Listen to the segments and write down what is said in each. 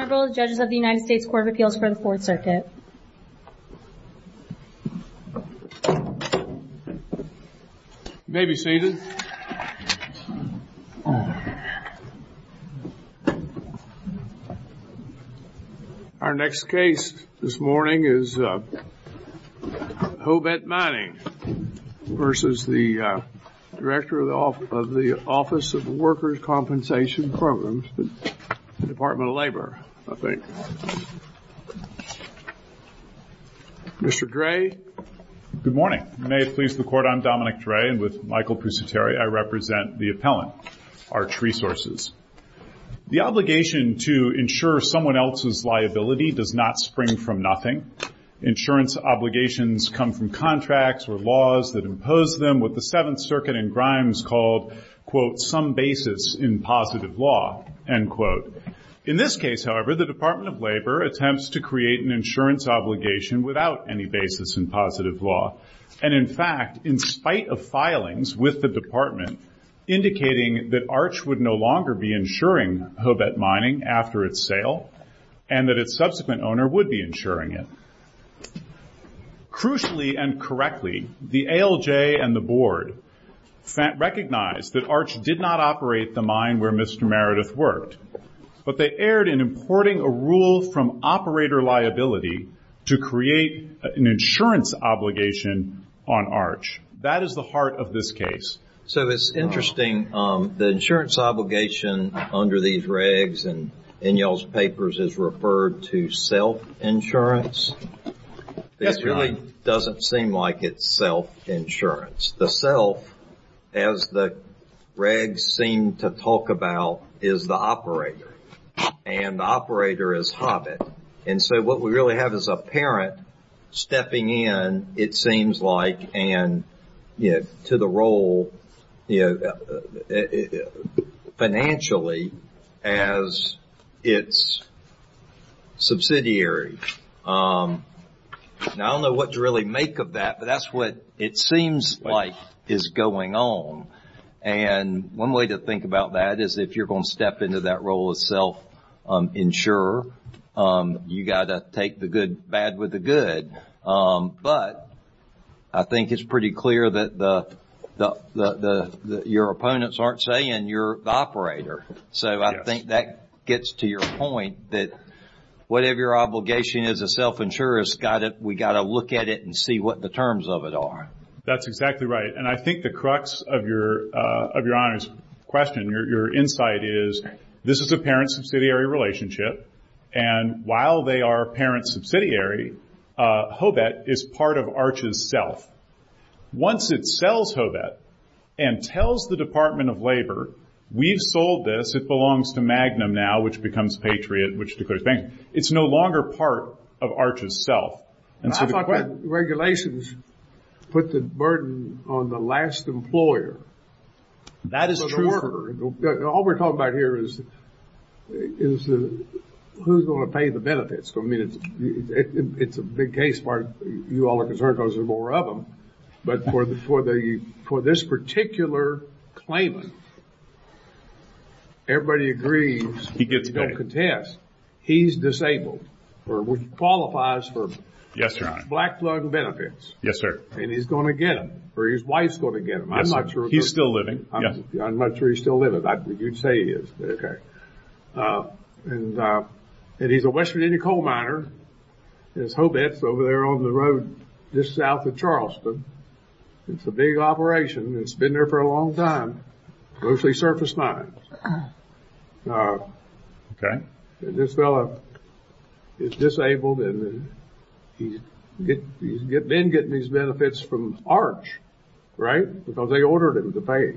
Honorable Judges of the U.S. Court of Appeals for the 4th Circuit. You may be seated. Our next case this morning is Hobet Mining v. the Director of the Office of Workers' Compensation Programs, Department of Labor, I think. Mr. Dray. Good morning. May it please the Court, I'm Dominic Dray, and with Michael Pusateri, I represent the appellant, Arch Resources. The obligation to insure someone else's liability does not spring from nothing. Insurance obligations come from contracts or laws that impose them, what the 7th Circuit in Grimes called, quote, some basis in positive law, end quote. In this case, however, the Department of Labor attempts to create an insurance obligation without any basis in positive law, and in fact, in spite of filings with the Department, indicating that Arch would no longer be insuring Hobet Mining after its sale, and that its subsequent owner would be insuring it. Crucially and correctly, the ALJ and the Board recognized that Arch did not operate the mine where Mr. Meredith worked, but they erred in importing a rule from operator liability to create an insurance obligation on Arch. That is the heart of this case. So it's interesting, the insurance obligation under these regs and in y'all's papers is referred to self-insurance. It really doesn't seem like it's self-insurance. The self, as the regs seem to talk about, is the operator, and the operator is Hobet. And so what we really have is a parent stepping in, it seems like, and to the role financially, as its subsidiary. Now I don't know what to really make of that, but that's what it seems like is going on. And one way to think about that is if you're going to step into that role of self-insurer, you got to take the good bad with the good. But I think it's pretty clear that your opponents aren't saying you're the operator. So I think that gets to your point, that whatever your obligation as a self-insurer, we got to look at it and see what the terms of it are. That's exactly right. And I think the crux of your Honor's question, your insight is this is a parent-subsidiary relationship, and while they are parent-subsidiary, Hobet is part of Arch's self. Once it sells Hobet and tells the Department of Labor, we've sold this, it belongs to Magnum now, which becomes Patriot, which declares bankruptcy. It's no longer part of Arch's self. I thought the regulations put the burden on the last employer. That is true. All we're talking about here is who's going to pay the benefits. I mean, it's a big case part, you all are concerned because there's more of them. But for this particular claimant, everybody agrees, they don't contest, he's disabled, which qualifies for black plug benefits. And he's going to get them, or his wife's going to get them. I'm not sure he's still living, but you'd say he is. And he's a West Virginia coal miner. His Hobet's over there on the road just south of Charleston. It's a big operation, it's been there for a long time, mostly surface mines. This fellow is disabled and he's been getting these benefits from Arch, right? Because they ordered him to pay.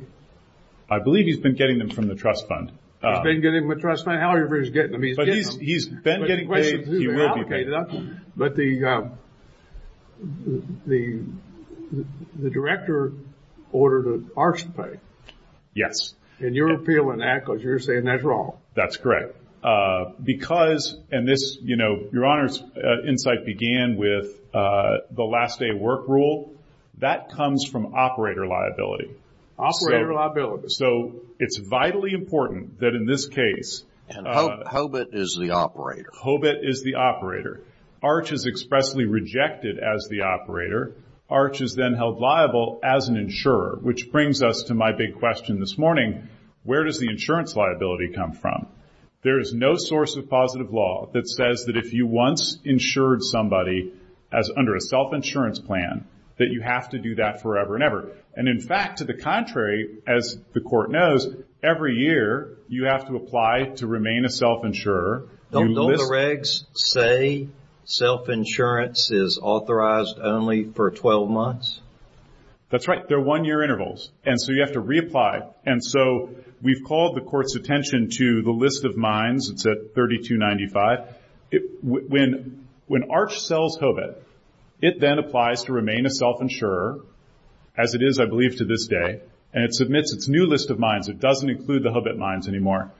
I believe he's been getting them from the trust fund. He's been getting them from the trust fund. However he's getting them, he's getting them. He's been getting paid, he will be paid. But the director ordered Arch to pay. Yes. And you're appealing that because you're saying that's wrong. That's correct. Because, and this, you know, your Honor's insight began with the last day work rule. That comes from operator liability. Operator liability. So it's vitally important that in this case... Hobet is the operator. Hobet is the operator. Arch is expressly rejected as the operator. Arch is then held liable as an insurer. Which brings us to my big question this morning. Where does the insurance liability come from? There is no source of positive law that says that if you once insured somebody as under a self-insurance plan, that you have to do that forever and ever. And in fact, to the contrary, as the court knows, every year you have to apply to remain a self-insurer. Don't the regs say self-insurance is authorized only for 12 months? That's right. They're one-year intervals. And so you have to reapply. And so we've called the court's attention to the list of mines. It's at 3295. When Arch sells Hobet, it then applies to remain a self-insurer, as it is, I believe, to this day. And it submits its new list of mines. It doesn't include the Hobet mines anymore.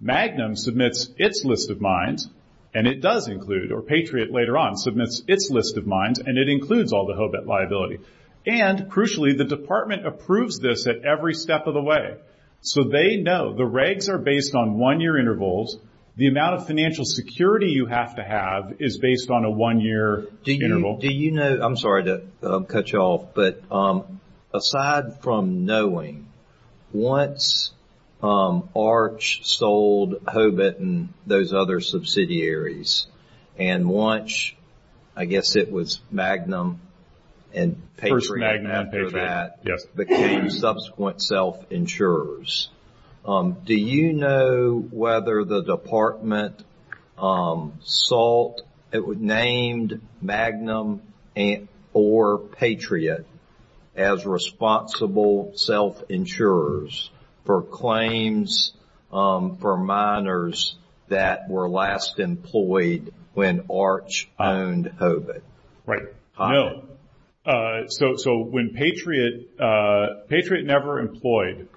Magnum submits its list of mines, and it does include, or Patriot later on submits its list of mines, and it includes all the Hobet liability. And crucially, the department approves this at every step of the way. So they know the regs are based on one-year intervals. The amount of financial security you have to have is based on a one-year interval. I'm sorry to cut you off, but aside from knowing, once Arch sold Hobet and those other subsidiaries, and once, I guess it was Magnum and Patriot after that, became subsequent self-insurers, do you know whether the department sold, named Magnum or Patriot as responsible self-insurers for claims for miners that were last employed when Arch owned Hobet? No. So when Patriot, Patriot never employed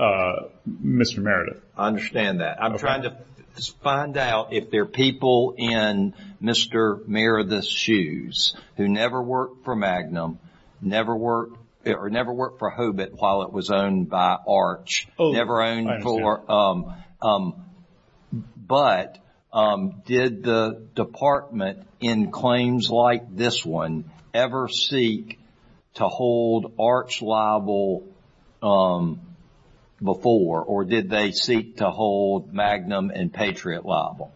Mr. Meredith. I understand that. I'm trying to find out if there are people in Mr. Meredith's shoes who never worked for Magnum, never worked for Hobet while it was owned by Arch, never worked for Magnum. Did the department in claims like this one ever seek to hold Arch liable before, or did they seek to hold Magnum and Patriot liable?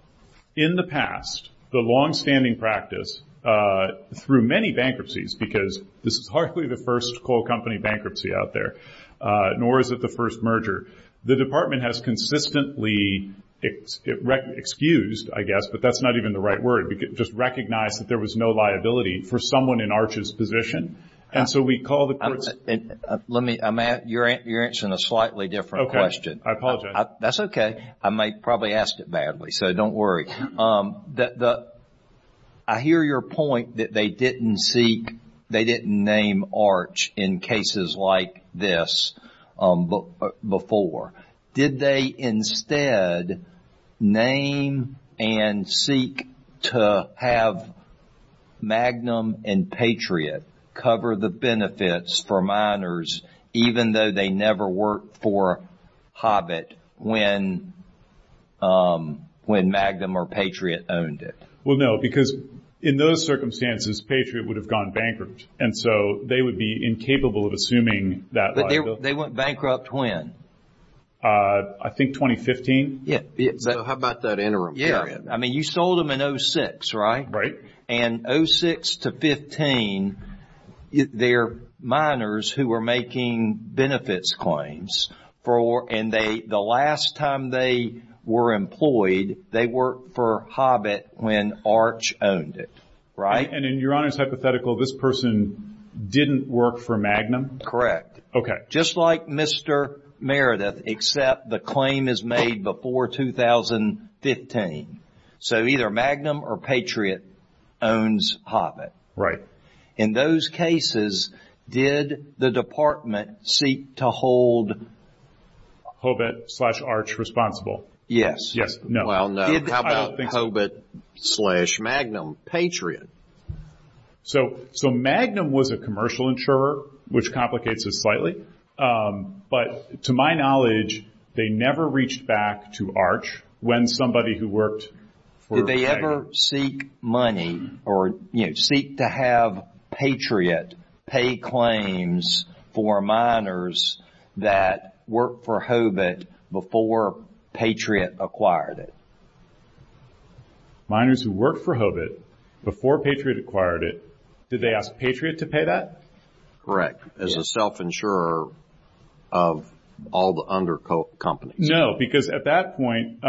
In the past, the longstanding practice, through many bankruptcies, because this is hardly the first coal company bankruptcy out there, nor is it the first merger, the department has consistently excused, I guess, but that's not even the right word, just recognized that there was no liability for someone in Arch's position, and so we call the courts. Let me, you're answering a slightly different question. Okay. I apologize. That's okay. I might probably ask it badly, so don't worry. I hear your point that they did they instead name and seek to have Magnum and Patriot cover the benefits for miners, even though they never worked for Hobet when Magnum or Patriot owned it? Well, no, because in those circumstances, Patriot would have gone bankrupt, and so they would be incapable of assuming that liability. They went bankrupt when? I think 2015. Yeah. So how about that interim period? Yeah. I mean, you sold them in 2006, right? Right. And 2006 to 15, they're miners who were making benefits claims, and the last time they were employed, they worked for Hobet when Arch owned it, right? And in Your Honor's hypothetical, this person didn't work for Magnum? Correct. Okay. Just like Mr. Meredith, except the claim is made before 2015. So either Magnum or Patriot owns Hobet. Right. In those cases, did the department seek to hold Hobet slash Arch responsible? Yes. Yes. No. Well, no. How about Hobet slash Magnum, Patriot? So Magnum was a commercial insurer, which complicates it slightly, but to my knowledge, they never reached back to Arch when somebody who worked for Patriot. Did they ever seek money or seek to have Patriot pay claims for miners that worked for Hobet before Patriot acquired it? Miners who worked for Hobet before Patriot acquired it, did they ask Patriot to pay that? Correct. As a self-insurer of all the under companies. No, because at that point,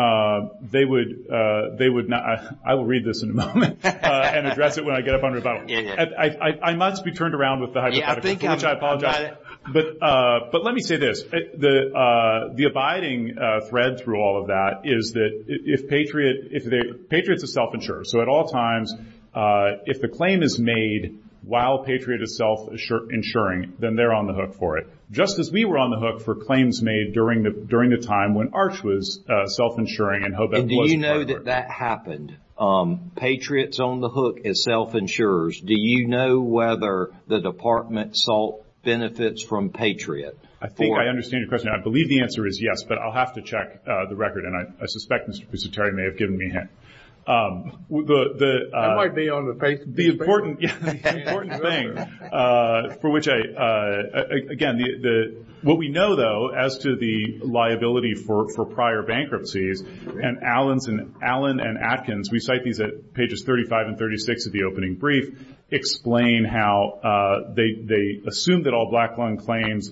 they would not – I will read this in a moment and address it when I get up on rebuttal. I must be turned around with the hypothetical, for which I apologize. Yeah, I think I've got it. But let me say this. The abiding thread through all of that is that if Patriot – Patriot's a self-insurer. So at all times, if the claim is made while Patriot is self-insuring, then they're on the hook for it, just as we were on the hook for claims made during the time when Arch was self-insuring and Hobet wasn't. And do you know that that happened? Patriot's on the hook as self-insurers. Do you know whether the department saw benefits from Patriot? I think I understand your question. I believe the answer is yes, but I'll have to check the record, and I suspect Mr. Terry may have given me a hint. I might be on the Facebook page. The important thing for which I – again, what we know, though, as to the liability for prior bankruptcies, and Allen and Atkins – we cite these at pages 35 and 36 of the opening brief – explain how they assumed that all black-lung claims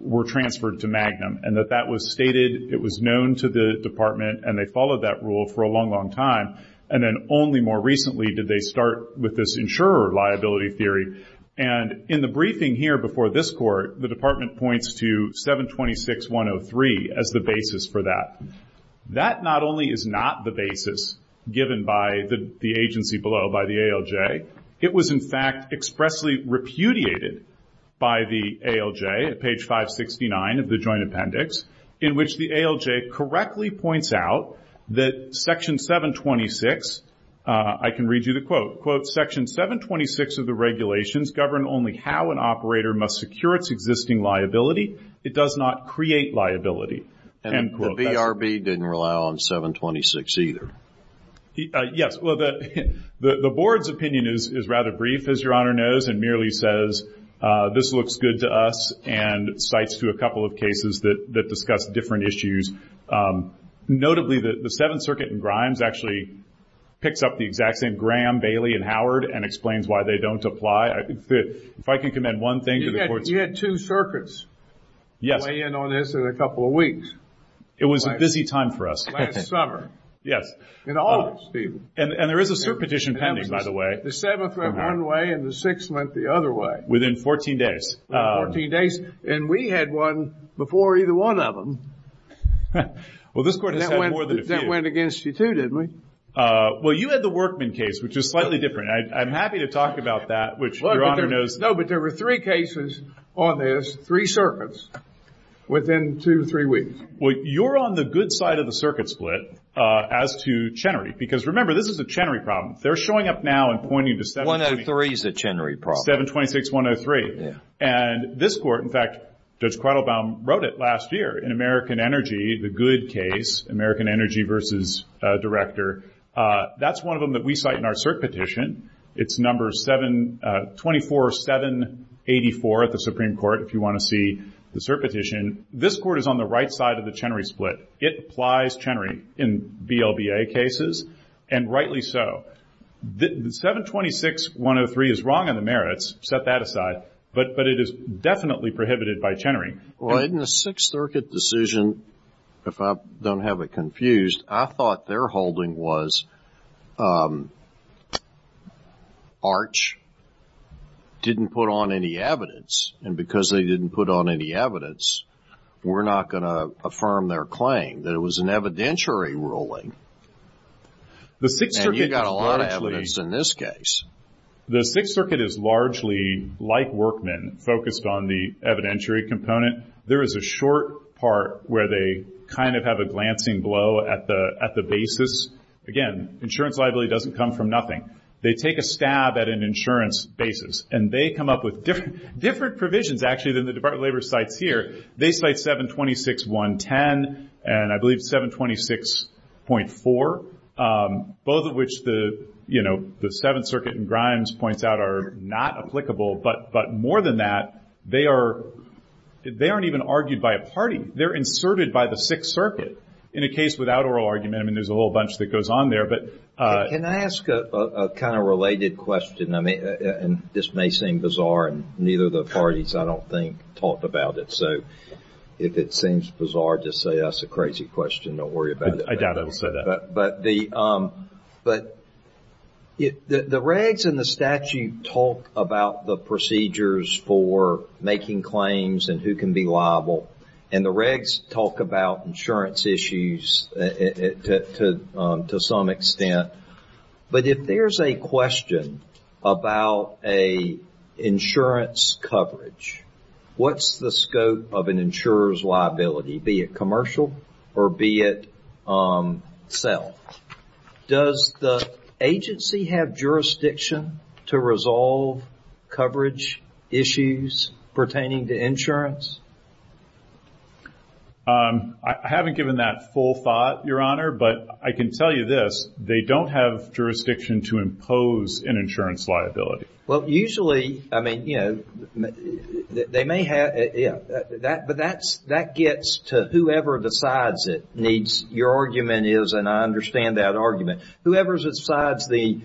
were transferred to Magnum, and that that was stated. It was known to the department, and they followed that rule for a long, long time. And then only more recently did they start with this insurer liability theory. And in the briefing here before this Court, the department points to 726.103 as the basis for that. That not only is not the basis given by the agency below, by the ALJ, it was in fact expressly repudiated by the ALJ at page 569 of the Joint Appendix, in which the ALJ correctly points out that Section 726 – I can read you the quote – Section 726 of the regulations govern only how an operator must secure its existing liability. It does not create liability. And the BRB didn't rely on 726 either. Yes. Well, the Board's opinion is rather brief, as Your Honor knows, and merely says this looks good to us and cites to a couple of cases that discuss different issues. Notably, the Seventh Circuit in Grimes actually picks up the exact same Graham, Bailey, and Howard and explains why they don't apply. If I can commend one thing to the Court's – You had two circuits weigh in on this in a couple of weeks. It was a busy time for us. Last summer. Yes. In August, even. And there is a cert petition pending, by the way. The Seventh went one way and the Sixth went the other way. Within 14 days. Within 14 days. And we had one before either one of them. Well, this Court has had more than a few. That went against you, too, didn't it? Well, you had the Workman case, which is slightly different. I'm happy to talk about that, which Your Honor knows. No, but there were three cases on this, three circuits, within two to three weeks. Well, you're on the good side of the circuit split as to Chenery. Because, remember, this is a Chenery problem. They're showing up now and pointing to 726. 103 is a Chenery problem. 726. 103. Yeah. And this Court, in fact, Judge Quattlebaum wrote it last year in American Energy, the good case, American Energy versus Director. That's one of them that we cite in our cert petition. It's number 724.784 at the Supreme Court, if you want to see the cert petition. This Court is on the right side of the Chenery split. It applies Chenery in BLBA cases, and rightly so. 726.103 is wrong in the merits, set that aside, but it is definitely prohibited by Chenery. Well, in the Sixth Circuit decision, if I don't have it confused, I thought their holding was Arch didn't put on any evidence, and because they didn't put on any evidence, we're not going to affirm their claim that it was an evidentiary ruling. And you've got a lot of evidence in this case. The Sixth Circuit is largely, like Workman, focused on the evidentiary component. There is a short part where they kind of have a glancing blow at the basis. Again, insurance liability doesn't come from nothing. They take a stab at an insurance basis, and they come up with different provisions, actually, than the Department of Labor cites here. They cite 726.110 and I believe 726.4, both of which the Seventh Circuit in Grimes points out are not applicable, but more than that, they aren't even argued by a party. They're inserted by the Sixth Circuit. In a case without oral argument, I mean, there's a whole bunch that goes on there. Can I ask a kind of related question? This may seem bizarre, and neither of the parties, I don't think, talked about it. So if it seems bizarre, just say that's a crazy question. Don't worry about it. I doubt I will say that. But the regs in the statute talk about the procedures for making claims and who can be liable, and the regs talk about insurance issues to some extent. But if there's a question about an insurance coverage, what's the scope of an insurer's liability, be it commercial or be it self? Does the agency have jurisdiction to resolve coverage issues pertaining to insurance? I haven't given that full thought, Your Honor, but I can tell you this. They don't have jurisdiction to impose an insurance liability. Well, usually, I mean, you know, they may have. But that gets to whoever decides it needs. Your argument is, and I understand that argument, whoever decides the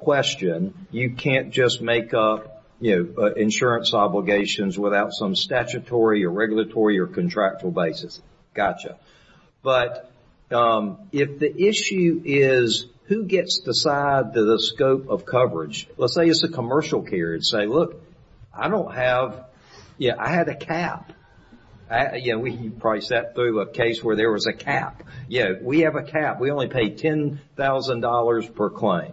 question, you can't just make up insurance obligations without some statutory or regulatory or contractual basis. Gotcha. But if the issue is who gets to decide the scope of coverage, let's say it's a commercial case and say, look, I don't have, yeah, I had a cap. Yeah, we probably sat through a case where there was a cap. Yeah, we have a cap. We only pay $10,000 per claim.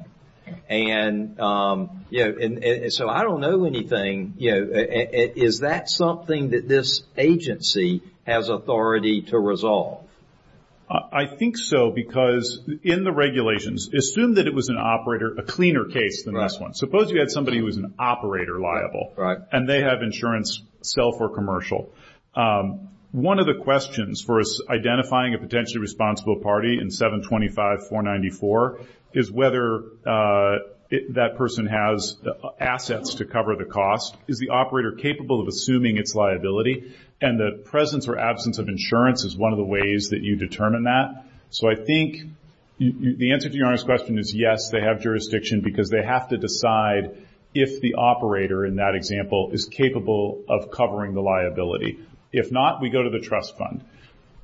And so I don't know anything. Is that something that this agency has authority to resolve? I think so because in the regulations, assume that it was an operator, a cleaner case than this one. Right. Suppose you had somebody who was an operator liable. Right. And they have insurance, self or commercial. One of the questions for identifying a potentially responsible party in 725-494 is whether that person has assets to cover the cost. Is the operator capable of assuming its liability? And the presence or absence of insurance is one of the ways that you determine that. So I think the answer to your honest question is yes, they have jurisdiction, because they have to decide if the operator, in that example, is capable of covering the liability. If not, we go to the trust fund.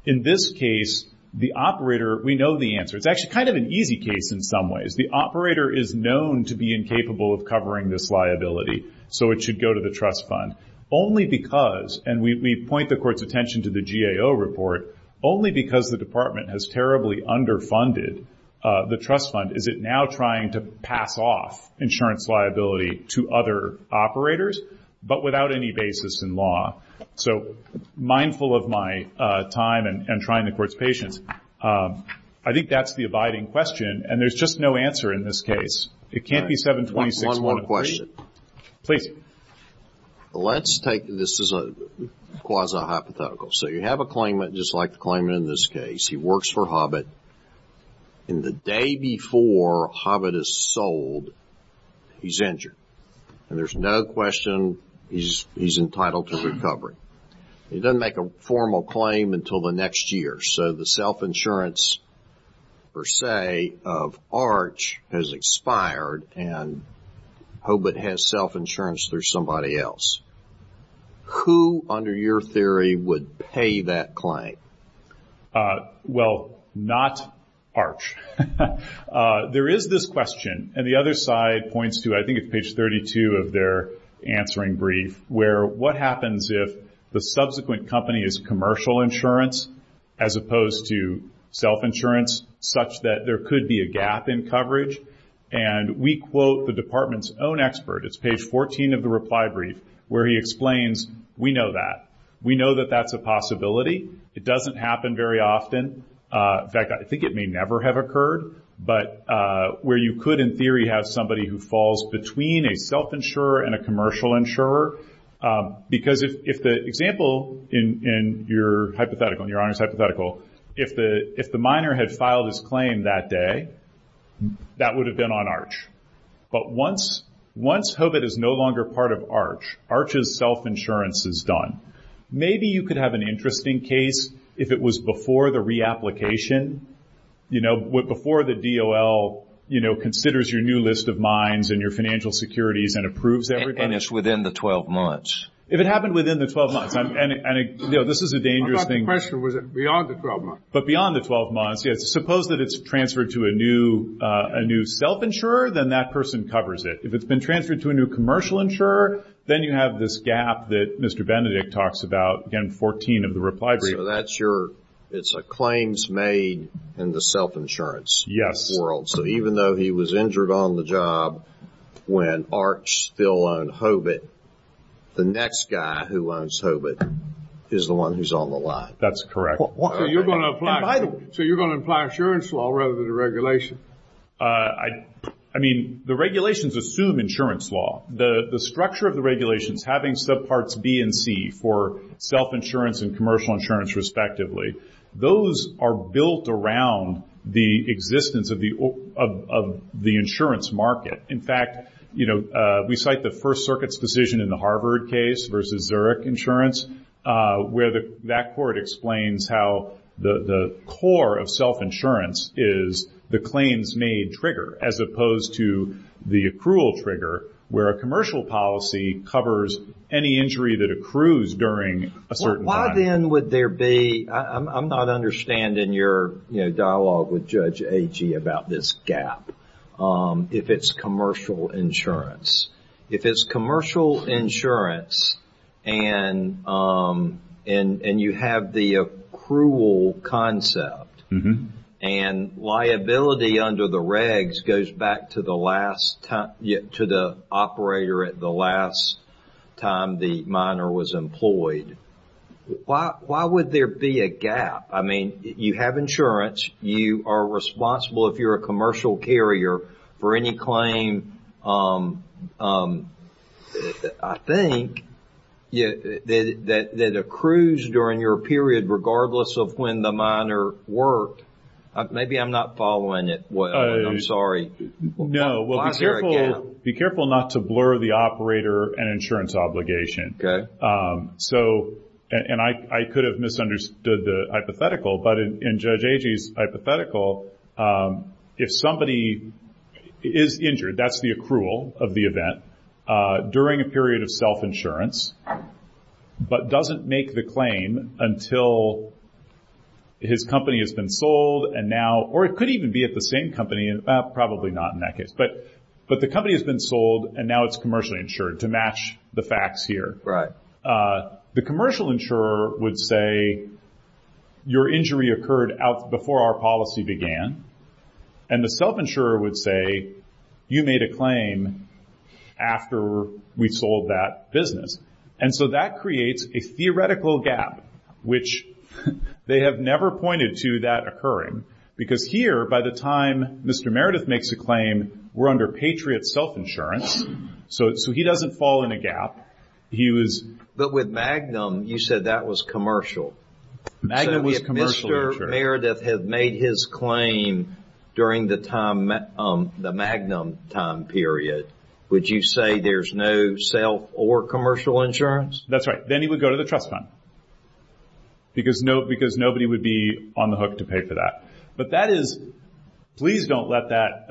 In this case, the operator, we know the answer. It's actually kind of an easy case in some ways. The operator is known to be incapable of covering this liability, so it should go to the trust fund. Only because, and we point the court's attention to the GAO report, only because the department has terribly underfunded the trust fund is it now trying to pass off insurance liability to other operators but without any basis in law. So mindful of my time and trying the court's patience. I think that's the abiding question, and there's just no answer in this case. It can't be 726-103. One more question. Please. Let's take this as a quasi-hypothetical. So you have a claimant just like the claimant in this case. He works for Hobbit. The day before Hobbit is sold, he's injured. And there's no question he's entitled to recovery. He doesn't make a formal claim until the next year. So the self-insurance, per se, of Arch has expired, and Hobbit has self-insurance through somebody else. Who, under your theory, would pay that claim? Well, not Arch. There is this question, and the other side points to, I think it's page 32 of their answering brief, where what happens if the subsequent company is commercial insurance as opposed to self-insurance, such that there could be a gap in coverage? And we quote the department's own expert. It's page 14 of the reply brief, where he explains, we know that. We know that that's a possibility. It doesn't happen very often. In fact, I think it may never have occurred. But where you could, in theory, have somebody who falls between a self-insurer and a commercial insurer, because if the example in your hypothetical, in your honors hypothetical, if the miner had filed his claim that day, that would have been on Arch. But once Hobbit is no longer part of Arch, Arch's self-insurance is done. Maybe you could have an interesting case if it was before the reapplication. You know, before the DOL, you know, considers your new list of mines and your financial securities and approves everybody. And it's within the 12 months. If it happened within the 12 months, and, you know, this is a dangerous thing. I thought the question was beyond the 12 months. But beyond the 12 months, yes. Suppose that it's transferred to a new self-insurer, then that person covers it. If it's been transferred to a new commercial insurer, then you have this gap that Mr. Benedict talks about, again, 14 of the reply brief. It's a claims made in the self-insurance world. So even though he was injured on the job when Arch still owned Hobbit, the next guy who owns Hobbit is the one who's on the line. That's correct. So you're going to apply insurance law rather than a regulation? I mean, the regulations assume insurance law. The structure of the regulations having subparts B and C for self-insurance and commercial insurance respectively, those are built around the existence of the insurance market. In fact, you know, we cite the First Circuit's decision in the Harvard case versus Zurich insurance where that court explains how the core of self-insurance is the claims made trigger as opposed to the accrual trigger where a commercial policy covers any injury that accrues during a certain time. Why then would there be – I'm not understanding your, you know, dialogue with Judge Agee about this gap if it's commercial insurance. If it's commercial insurance and you have the accrual concept and liability under the regs goes back to the last – to the operator at the last time the minor was employed, why would there be a gap? I mean, you have insurance. You are responsible if you're a commercial carrier for any claim, I think, that accrues during your period regardless of when the minor worked. Maybe I'm not following it. I'm sorry. No, well, be careful not to blur the operator and insurance obligation. So – and I could have misunderstood the hypothetical, but in Judge Agee's hypothetical, if somebody is injured, that's the accrual of the event during a period of self-insurance but doesn't make the claim until his company has been sold and now – or it could even be at the same company. Probably not in that case, but the company has been sold and now it's commercially insured to match the facts here. The commercial insurer would say, your injury occurred before our policy began, and the self-insurer would say, you made a claim after we sold that business. And so that creates a theoretical gap, which they have never pointed to that occurring because here, by the time Mr. Meredith makes a claim, we're under Patriot self-insurance. So he doesn't fall in a gap. He was – But with Magnum, you said that was commercial. Magnum was commercially insured. So if Mr. Meredith had made his claim during the Magnum time period, would you say there's no self or commercial insurance? That's right. Then he would go to the trust fund because nobody would be on the hook to pay for that. But that is – Please don't let that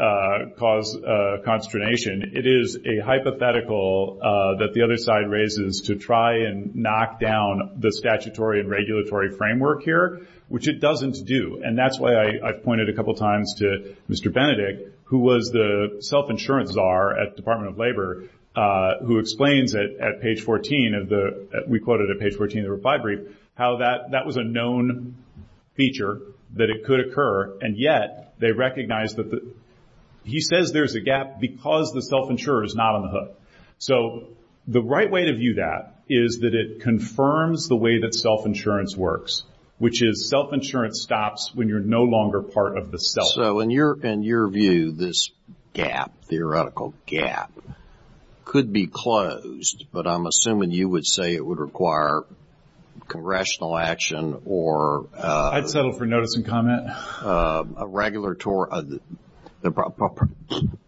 cause consternation. It is a hypothetical that the other side raises to try and knock down the statutory and regulatory framework here, which it doesn't do. And that's why I've pointed a couple times to Mr. Benedict, who was the self-insurance czar at the Department of Labor, who explains it at page 14 of the – we quote it at page 14 of the reply brief how that was a known feature that it could occur, and yet they recognize that the – he says there's a gap because the self-insurer is not on the hook. So the right way to view that is that it confirms the way that self-insurance works, which is self-insurance stops when you're no longer part of the self. So in your view, this gap, theoretical gap, could be closed, but I'm assuming you would say it would require congressional action or – I'd settle for notice and comment. A regulatory –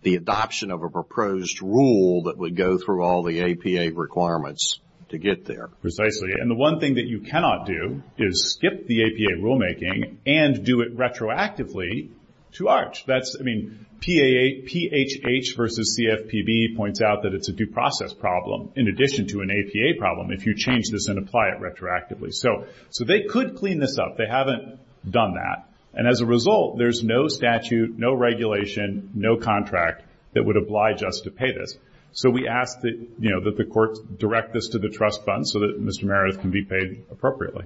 the adoption of a proposed rule that would go through all the APA requirements to get there. Precisely. And the one thing that you cannot do is skip the APA rulemaking and do it retroactively to ARCH. That's – I mean, PAH versus CFPB points out that it's a due process problem in addition to an APA problem if you change this and apply it retroactively. So they could clean this up. They haven't done that. And as a result, there's no statute, no regulation, no contract that would oblige us to pay this. So we ask that the courts direct this to the trust fund so that Mr. Meredith can be paid appropriately.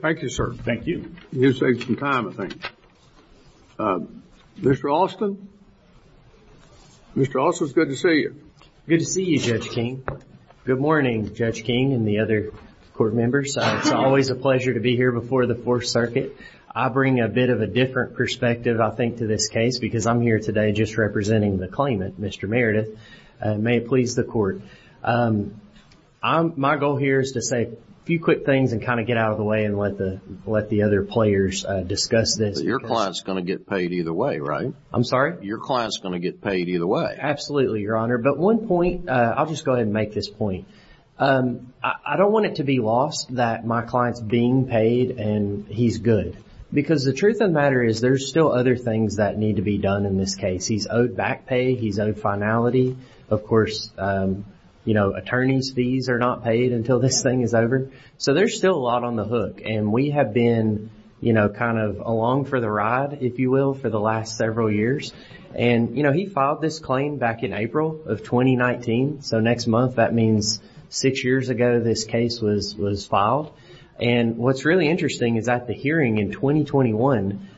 Thank you, sir. Thank you. You saved some time, I think. Mr. Austin? Mr. Austin, it's good to see you. Good to see you, Judge King. Good morning, Judge King and the other court members. It's always a pleasure to be here before the Fourth Circuit. I bring a bit of a different perspective, I think, to this case because I'm here today just representing the claimant, Mr. Meredith. May it please the court. My goal here is to say a few quick things and kind of get out of the way and let the other players discuss this. Your client's going to get paid either way, right? I'm sorry? Your client's going to get paid either way. Absolutely, Your Honor. But one point, I'll just go ahead and make this point. I don't want it to be lost that my client's being paid and he's good because the truth of the matter is there's still other things that need to be done in this case. He's owed back pay. He's owed finality. Of course, attorney's fees are not paid until this thing is over. So there's still a lot on the hook, and we have been, you know, kind of along for the ride, if you will, for the last several years. And, you know, he filed this claim back in April of 2019. So next month, that means six years ago this case was filed. And what's really interesting is at the hearing in 2021,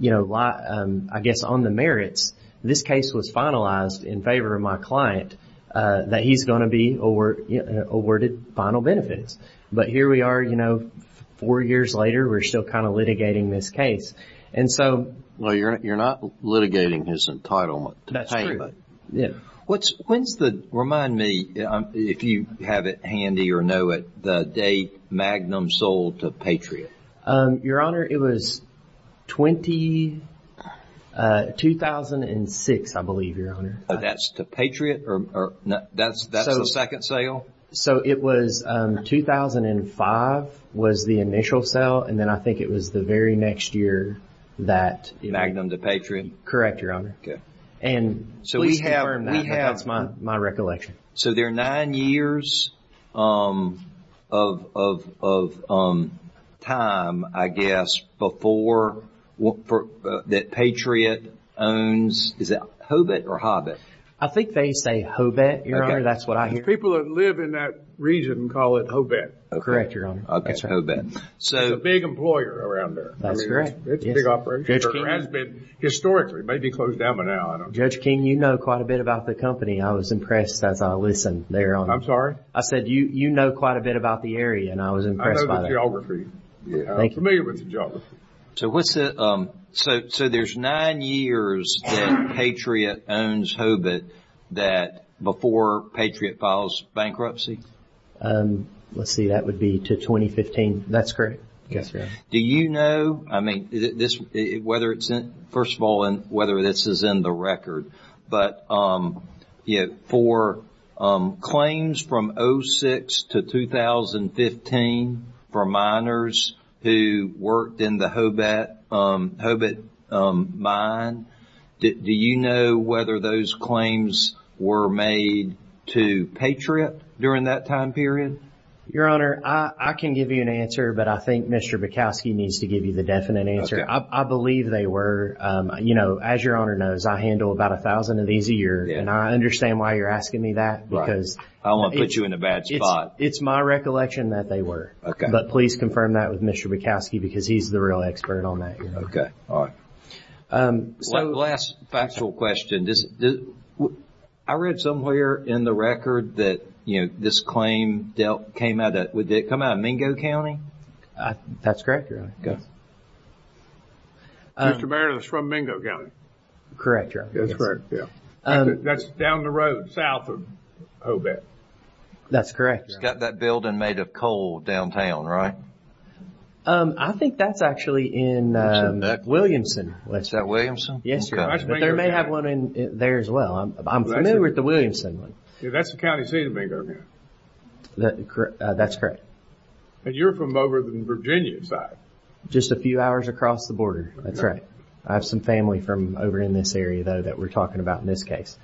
you know, I guess on the merits, this case was finalized in favor of my client that he's going to be awarded final benefits. But here we are, you know, four years later, we're still kind of litigating this case. And so – Well, you're not litigating his entitlement to pay. That's true. When's the – remind me if you have it handy or know it, the day Magnum sold to Patriot. Your Honor, it was 2006, I believe, Your Honor. That's to Patriot, or that's the second sale? So it was 2005 was the initial sale, and then I think it was the very next year that – Magnum to Patriot? Correct, Your Honor. And we have – That's my recollection. So there are nine years of time, I guess, before – that Patriot owns – is it Hobbit or Hobbit? I think they say Hobbit, Your Honor. That's what I hear. People that live in that region call it Hobbit. Correct, Your Honor. Okay, Hobbit. So – It's a big employer around there. That's correct. It's a big operation. It has been historically. It may be closed down by now. I don't know. Judge King, you know quite a bit about the company. I was impressed as I listened there on – I said you know quite a bit about the area, and I was impressed by that. Thank you. I'm familiar with the geography. So what's the – so there's nine years that Patriot owns Hobbit that – before Patriot files bankruptcy? Let's see. That would be to 2015. That's correct. Yes, Your Honor. Do you know – I mean, this – whether it's in – first of all, whether this is in the record. But for claims from 2006 to 2015 for miners who worked in the Hobbit mine, do you know whether those claims were made to Patriot during that time period? Your Honor, I can give you an answer, but I think Mr. Bukowski needs to give you the definite answer. Okay. I believe they were. You know, as Your Honor knows, I handle about a thousand of these a year. And I understand why you're asking me that. Because – I don't want to put you in a bad spot. It's my recollection that they were. Okay. But please confirm that with Mr. Bukowski because he's the real expert on that. Okay. All right. So – Last factual question. I read somewhere in the record that, you know, this claim dealt – came out of – did it come out of Mingo County? That's correct, Your Honor. Go ahead. Mr. Barrett, it was from Mingo County. Correct, Your Honor. That's correct, yeah. That's down the road south of Hobbit. That's correct, Your Honor. It's got that building made of coal downtown, right? I think that's actually in Williamson. Is that Williamson? Yes, Your Honor. But there may have one in there as well. I'm familiar with the Williamson one. Yeah, that's the county seat of Mingo County. That's correct. And you're from over the Virginia side? Just a few hours across the border. That's right. I have some family from over in this area, though, that we're talking about in this case.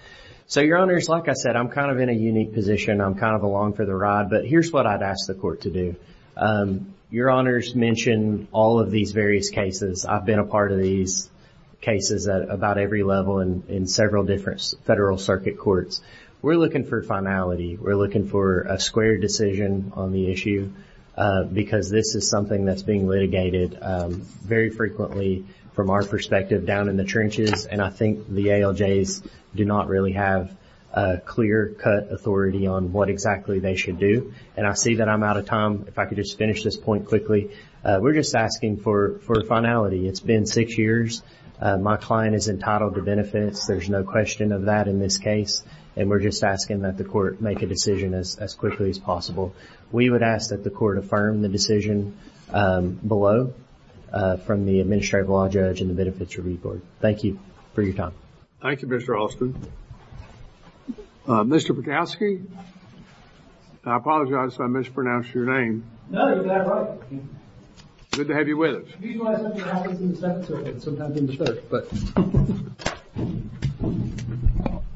So, Your Honors, like I said, I'm kind of in a unique position. I'm kind of along for the ride, but here's what I'd ask the court to do. Your Honors mentioned all of these various cases. I've been a part of these cases at about every level in several different federal circuit courts. We're looking for finality. We're looking for a square decision on the issue because this is something that's being litigated very frequently from our perspective down in the trenches. And I think the ALJs do not really have clear-cut authority on what exactly they should do. And I see that I'm out of time. If I could just finish this point quickly. We're just asking for finality. It's been six years. My client is entitled to benefits. There's no question of that in this case. And we're just asking that the court make a decision as quickly as possible. We would ask that the court affirm the decision below from the Administrative Law Judge and the Benefits Review Board. Thank you for your time. Thank you, Mr. Alston. Mr. Patowski? I apologize if I mispronounced your name. No, you got it right. Good to have you with us.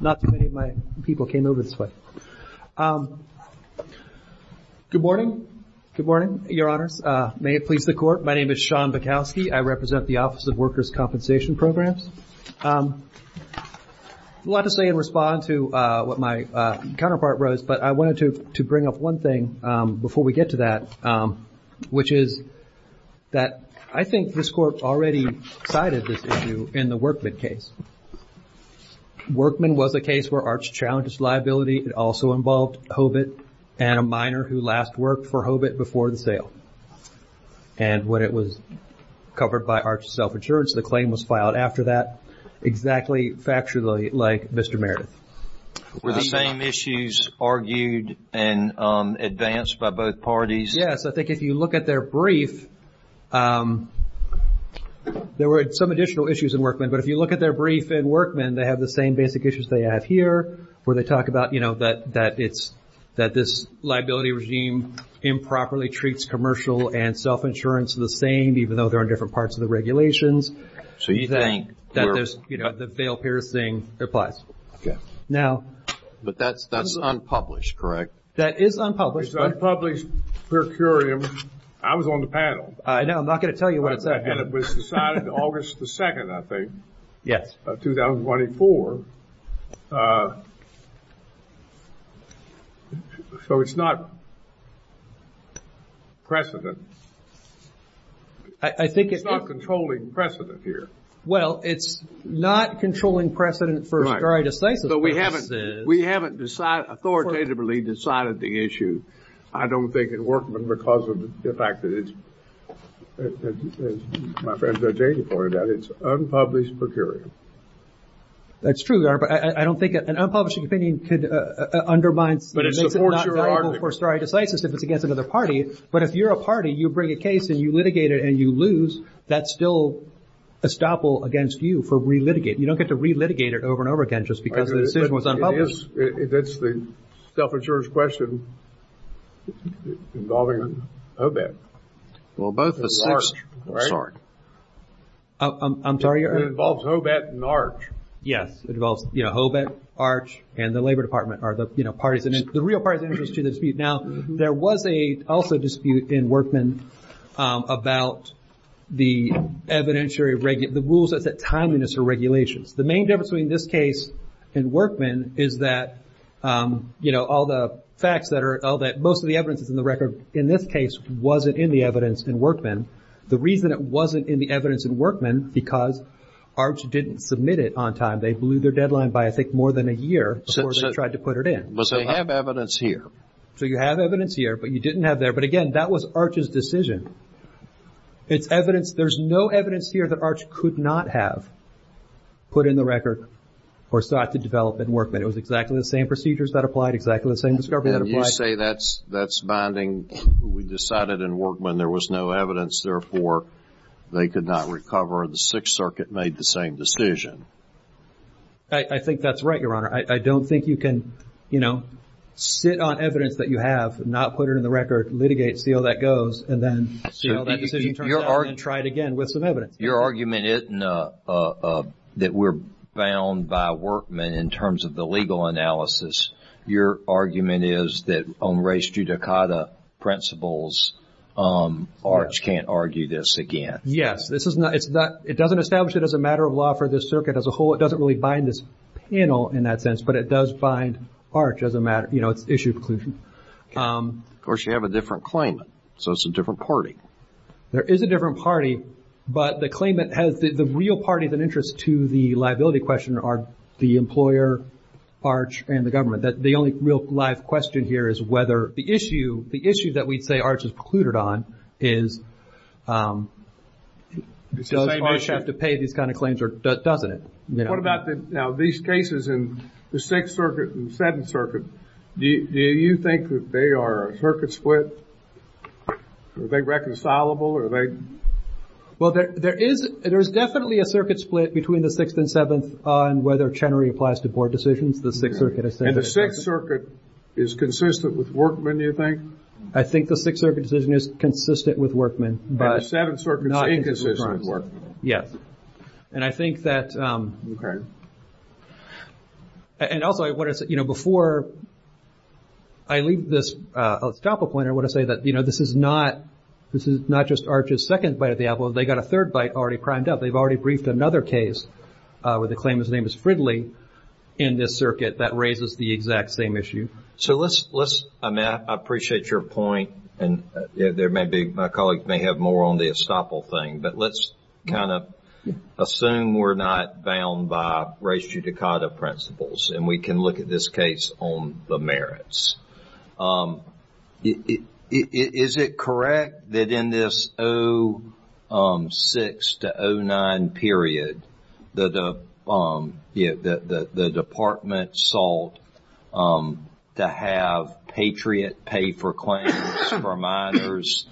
Not too many of my people came over this way. Good morning. Good morning, Your Honors. May it please the Court. My name is Sean Patowski. I represent the Office of Workers' Compensation Programs. A lot to say in response to what my counterpart wrote, but I wanted to bring up one thing before we get to that, which is that I think this Court already cited this issue in the Workman case. Workman was a case where ARCH challenged liability. It also involved Hobit and a miner who last worked for Hobit before the sale. And when it was covered by ARCH's self-insurance, the claim was filed after that. Exactly factually like Mr. Meredith. Were the same issues argued and advanced by both parties? Yes, I think if you look at their brief, there were some additional issues in Workman. But if you look at their brief in Workman, they have the same basic issues they have here, where they talk about, you know, that this liability regime improperly treats commercial and self-insurance the same, even though they're on different parts of the regulations. So you think... That there's, you know, the veil-piercing applies. Okay. Now... But that's unpublished, correct? That is unpublished. It's unpublished per curiam. I was on the panel. I know. I'm not going to tell you what it said. And it was decided August the 2nd, I think. Yes. Of 2024. So it's not precedent. I think it's... It's not controlling precedent here. Well, it's not controlling precedent for... But we haven't... We haven't decided, authoritatively decided the issue. I don't think it worked because of the fact that it's... as my friend Judge Aden pointed out, it's unpublished per curiam. That's true, Your Honor. But I don't think an unpublished opinion could undermine... But it supports your argument. It makes it not valuable for stare decisis if it's against another party. But if you're a party, you bring a case and you litigate it and you lose, that's still estoppel against you for re-litigating. You don't get to re-litigate it over and over again just because the decision was unpublished. It is. That's the self-insurance question involving OBET. Well, both of the six, right? I'm sorry, Your Honor. It involves OBET and ARCH. Yes, it involves OBET, ARCH, and the Labor Department, are the parties that... The real parties interested in the dispute. Now, there was also a dispute in Workman about the evidentiary... the rules that set timeliness of regulations. The main difference between this case and Workman is that all the facts that are... most of the evidence that's in the record in this case wasn't in the evidence in Workman. The reason it wasn't in the evidence in Workman, because ARCH didn't submit it on time. They blew their deadline by, I think, more than a year before they tried to put it in. But they have evidence here. So you have evidence here, but you didn't have there. But again, that was ARCH's decision. It's evidence... There's no evidence here that ARCH could not have put in the record or sought to develop in Workman. It was exactly the same procedures that applied, exactly the same discovery that applied. You say that's binding. We decided in Workman there was no evidence. Therefore, they could not recover. The Sixth Circuit made the same decision. I think that's right, Your Honor. I don't think you can, you know, sit on evidence that you have, not put it in the record, litigate, see how that goes, and then see how that decision turns out and try it again with some evidence. Your argument isn't that we're bound by Workman in terms of the legal analysis. Your argument is that on race judicata principles, ARCH can't argue this again. This is not... It doesn't establish it as a matter of law for this circuit as a whole. It doesn't really bind this panel in that sense. But it does bind ARCH as a matter... You know, it's an issue of inclusion. Of course, you have a different claimant. So it's a different party. There is a different party. But the claimant has... The real party that interests to the liability question are the employer, ARCH, and the government. The only real live question here is whether the issue, the issue that we'd say ARCH is precluded on, is does ARCH have to pay these kind of claims or doesn't it? What about these cases in the Sixth Circuit and the Seventh Circuit? Do you think that they are a circuit split? Are they reconcilable? Are they... Well, there is definitely a circuit split between the Sixth and Seventh on whether Chenery applies to board decisions. The Sixth Circuit has said... And the Sixth Circuit is consistent with Workman, you think? I think the Sixth Circuit decision is consistent with Workman. And the Seventh Circuit is inconsistent with Workman. Yes. And I think that... And also, before I leave this, I'll stop a point. I want to say that this is not... It's not just ARCH's second bite at the apple. They got a third bite already primed up. They've already briefed another case with a claimant's name as Fridley in this circuit that raises the exact same issue. So let's... Matt, I appreciate your point. And there may be... My colleagues may have more on the estoppel thing. But let's kind of assume we're not bound by res judicata principles and we can look at this case on the merits. Is it correct that in this 06-09 period, the department sought to have Patriot pay for claims for minors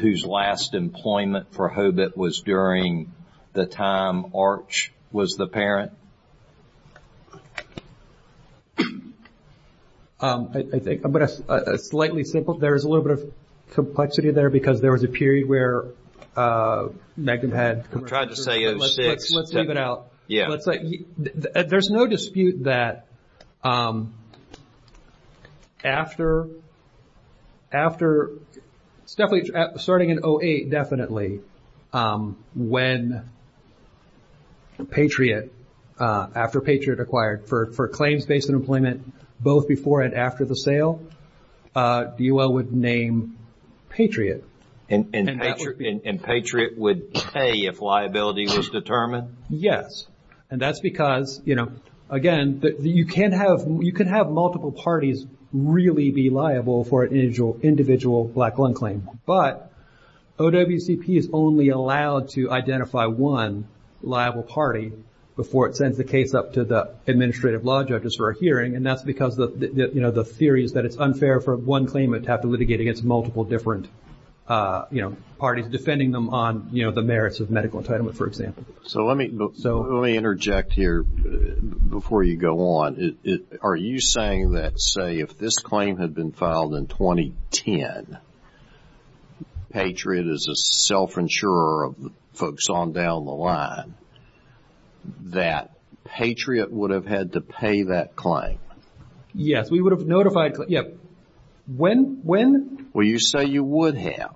whose last employment for Hobit was during the time ARCH was the parent? I think... I'm going to... Slightly simple. There is a little bit of complexity there because there was a period where Magnum had... I'm trying to say 06. Let's leave it out. Yeah. There's no dispute that after... After... Starting in 08, definitely. When Patriot... After Patriot acquired for claims based on employment, both before and after the sale, DOL would name Patriot. And Patriot would pay if liability was determined? Yes. And that's because, you know, again, you can have multiple parties really be liable for an individual black lung claim. But OWCP is only allowed to identify one liable party before it sends the case up to the administrative law judges for a hearing. And that's because the theory is that it's unfair for one claimant to have to litigate against multiple different parties, defending them on the merits of medical entitlement, for example. So let me interject here before you go on. Are you saying that, say, if this claim had been filed in 2010, Patriot is a self-insurer of the folks on down the line, that Patriot would have had to pay that claim? Yes. We would have notified... Yeah. When? When? Well, you say you would have.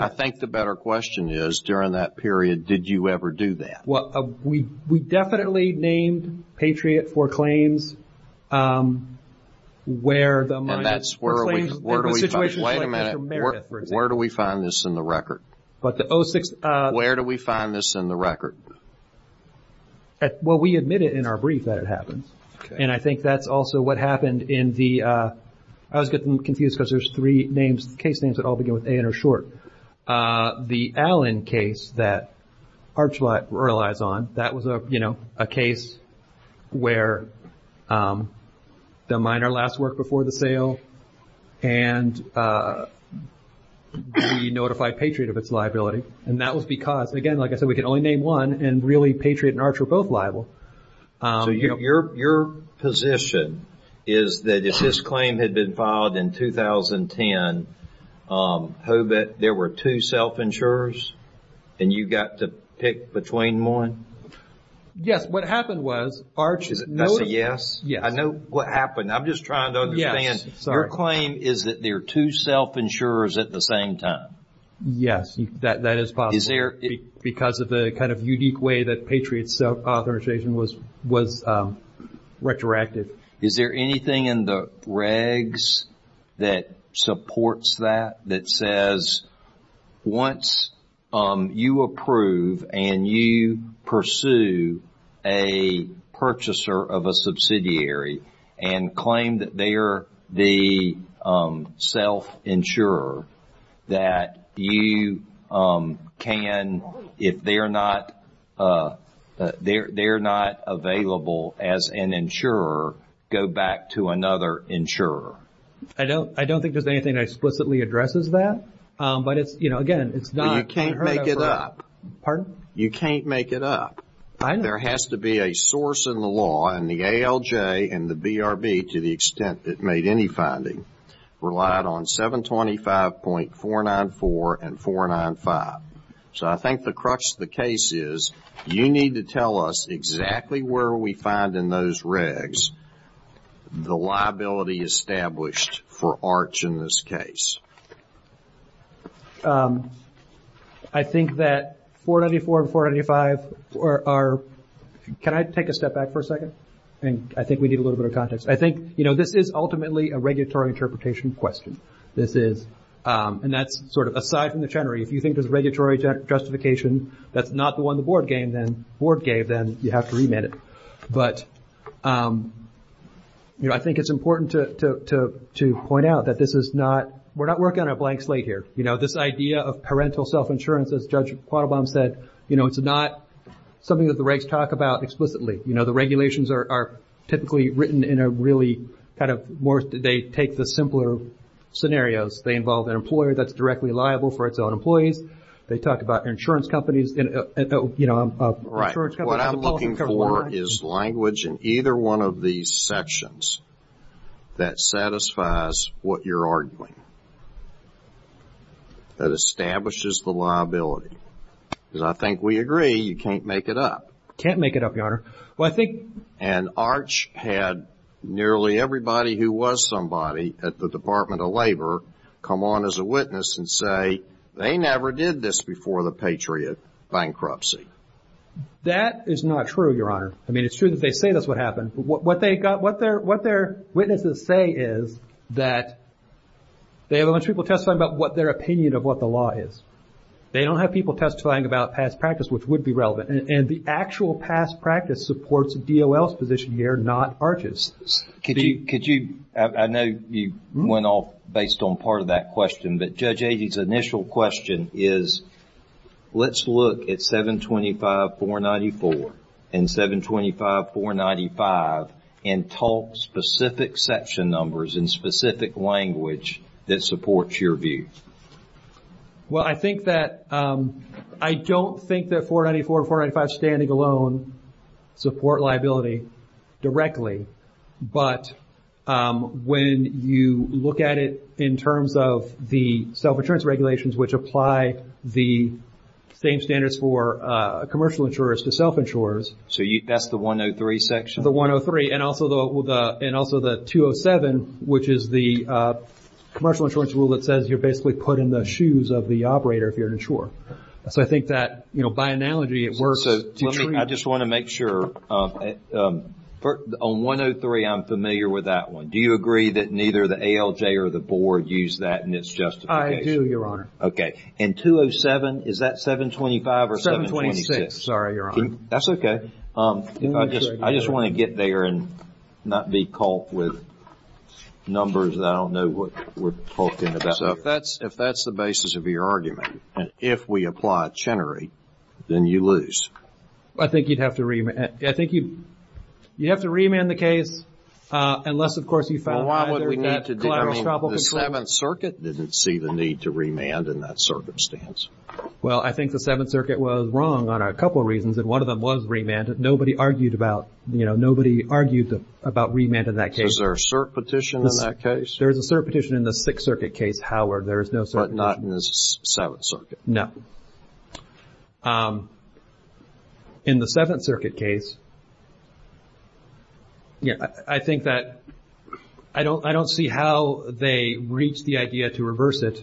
I think the better question is, during that period, did you ever do that? We definitely named Patriot for claims where the minor... And that's where are we... In a situation like Mr. Meredith, for example. Where do we find this in the record? But the 06... Where do we find this in the record? Well, we admit it in our brief that it happened. And I think that's also what happened in the... I was getting confused because there's three names, case names that all begin with A and are short. The Allen case that Arch relies on, that was a case where the minor last worked before the sale and we notified Patriot of its liability. And that was because, again, like I said, we could only name one and really Patriot and Arch were both liable. So your position is that if this claim had been filed in 2010, Hobit, there were two self-insurers and you got to pick between one? Yes, what happened was, Arch... I said yes? Yes. I know what happened. I'm just trying to understand. Your claim is that there are two self-insurers at the same time? Yes, that is possible. Is there... Because of the kind of unique way that Patriot's self-authorization was retroactive. Is there anything in the regs that supports that, that says once you approve and you pursue a purchaser of a subsidiary and claim that they're the self-insurer, that you can, if they're not available as an insurer, go back to another insurer? I don't think there's anything that explicitly addresses that. But, again, it's not... You can't make it up. Pardon? You can't make it up. I know. There has to be a source in the law and the ALJ and the BRB, to the extent it made any finding, relied on 725.494 and 495. So I think the crux of the case is, you need to tell us exactly where we find in those regs the liability established for Arch in this case. I think that 494 and 495 are... Can I take a step back for a second? I think we need a little bit of context. I think this is ultimately a regulatory interpretation question. And that's sort of aside from the Chenery. If you think there's regulatory justification that's not the one the board gave, then you have to remit it. But I think it's important to point out that this is not... We're not working on a blank slate here. This idea of parental self-insurance, as Judge Quattlebaum said, it's not something that the regs talk about explicitly. The regulations are typically written in a really kind of... They take the simpler scenarios. They involve an employer that's directly liable for its own employees. They talk about insurance companies. What I'm looking for is language in either one of these sections that satisfies what you're arguing, that establishes the liability. Because I think we agree you can't make it up. Can't make it up, Your Honor. Well, I think... And Arch had nearly everybody who was somebody at the Department of Labor come on as a witness and say they never did this before the Patriot bankruptcy. That is not true, Your Honor. I mean, it's true that they say that's what happened. What their witnesses say is that they have a bunch of people testifying about what their opinion of what the law is. They don't have people testifying about past practice, which would be relevant. And the actual past practice supports DOL's position here, not Arch's. Could you... I know you went off based on part of that question, but Judge Agee's initial question is, let's look at 725-494 and 725-495 and talk specific section numbers in specific language that supports your view. Well, I think that... I don't think that 494 and 495 standing alone support liability directly. But when you look at it in terms of the self-insurance regulations which apply the same standards for commercial insurers to self-insurers... So that's the 103 section? The 103 and also the 207, which is the commercial insurance rule that says you're basically put in the shoes of the operator if you're an insurer. So I think that, by analogy, it works to treat... I just want to make sure. On 103, I'm familiar with that one. Do you agree that neither the ALJ or the board use that in its justification? I do, Your Honor. Okay. And 207, is that 725 or 726? 726, sorry, Your Honor. That's okay. I just want to get there and not be caught with numbers that I don't know what we're talking about here. So if that's the basis of your argument, and if we apply Chenery, then you lose. I think you'd have to remand the case unless, of course, you found... Well, why would we need to do that? The Seventh Circuit didn't see the need to remand in that circumstance. Well, I think the Seventh Circuit was wrong on a couple of reasons, and one of them was remand. Nobody argued about remand in that case. Is there a cert petition in that case? There is a cert petition in the Sixth Circuit case, Howard. There is no cert petition. But not in the Seventh Circuit? No. In the Seventh Circuit case, I think that I don't see how they reached the idea to reverse it.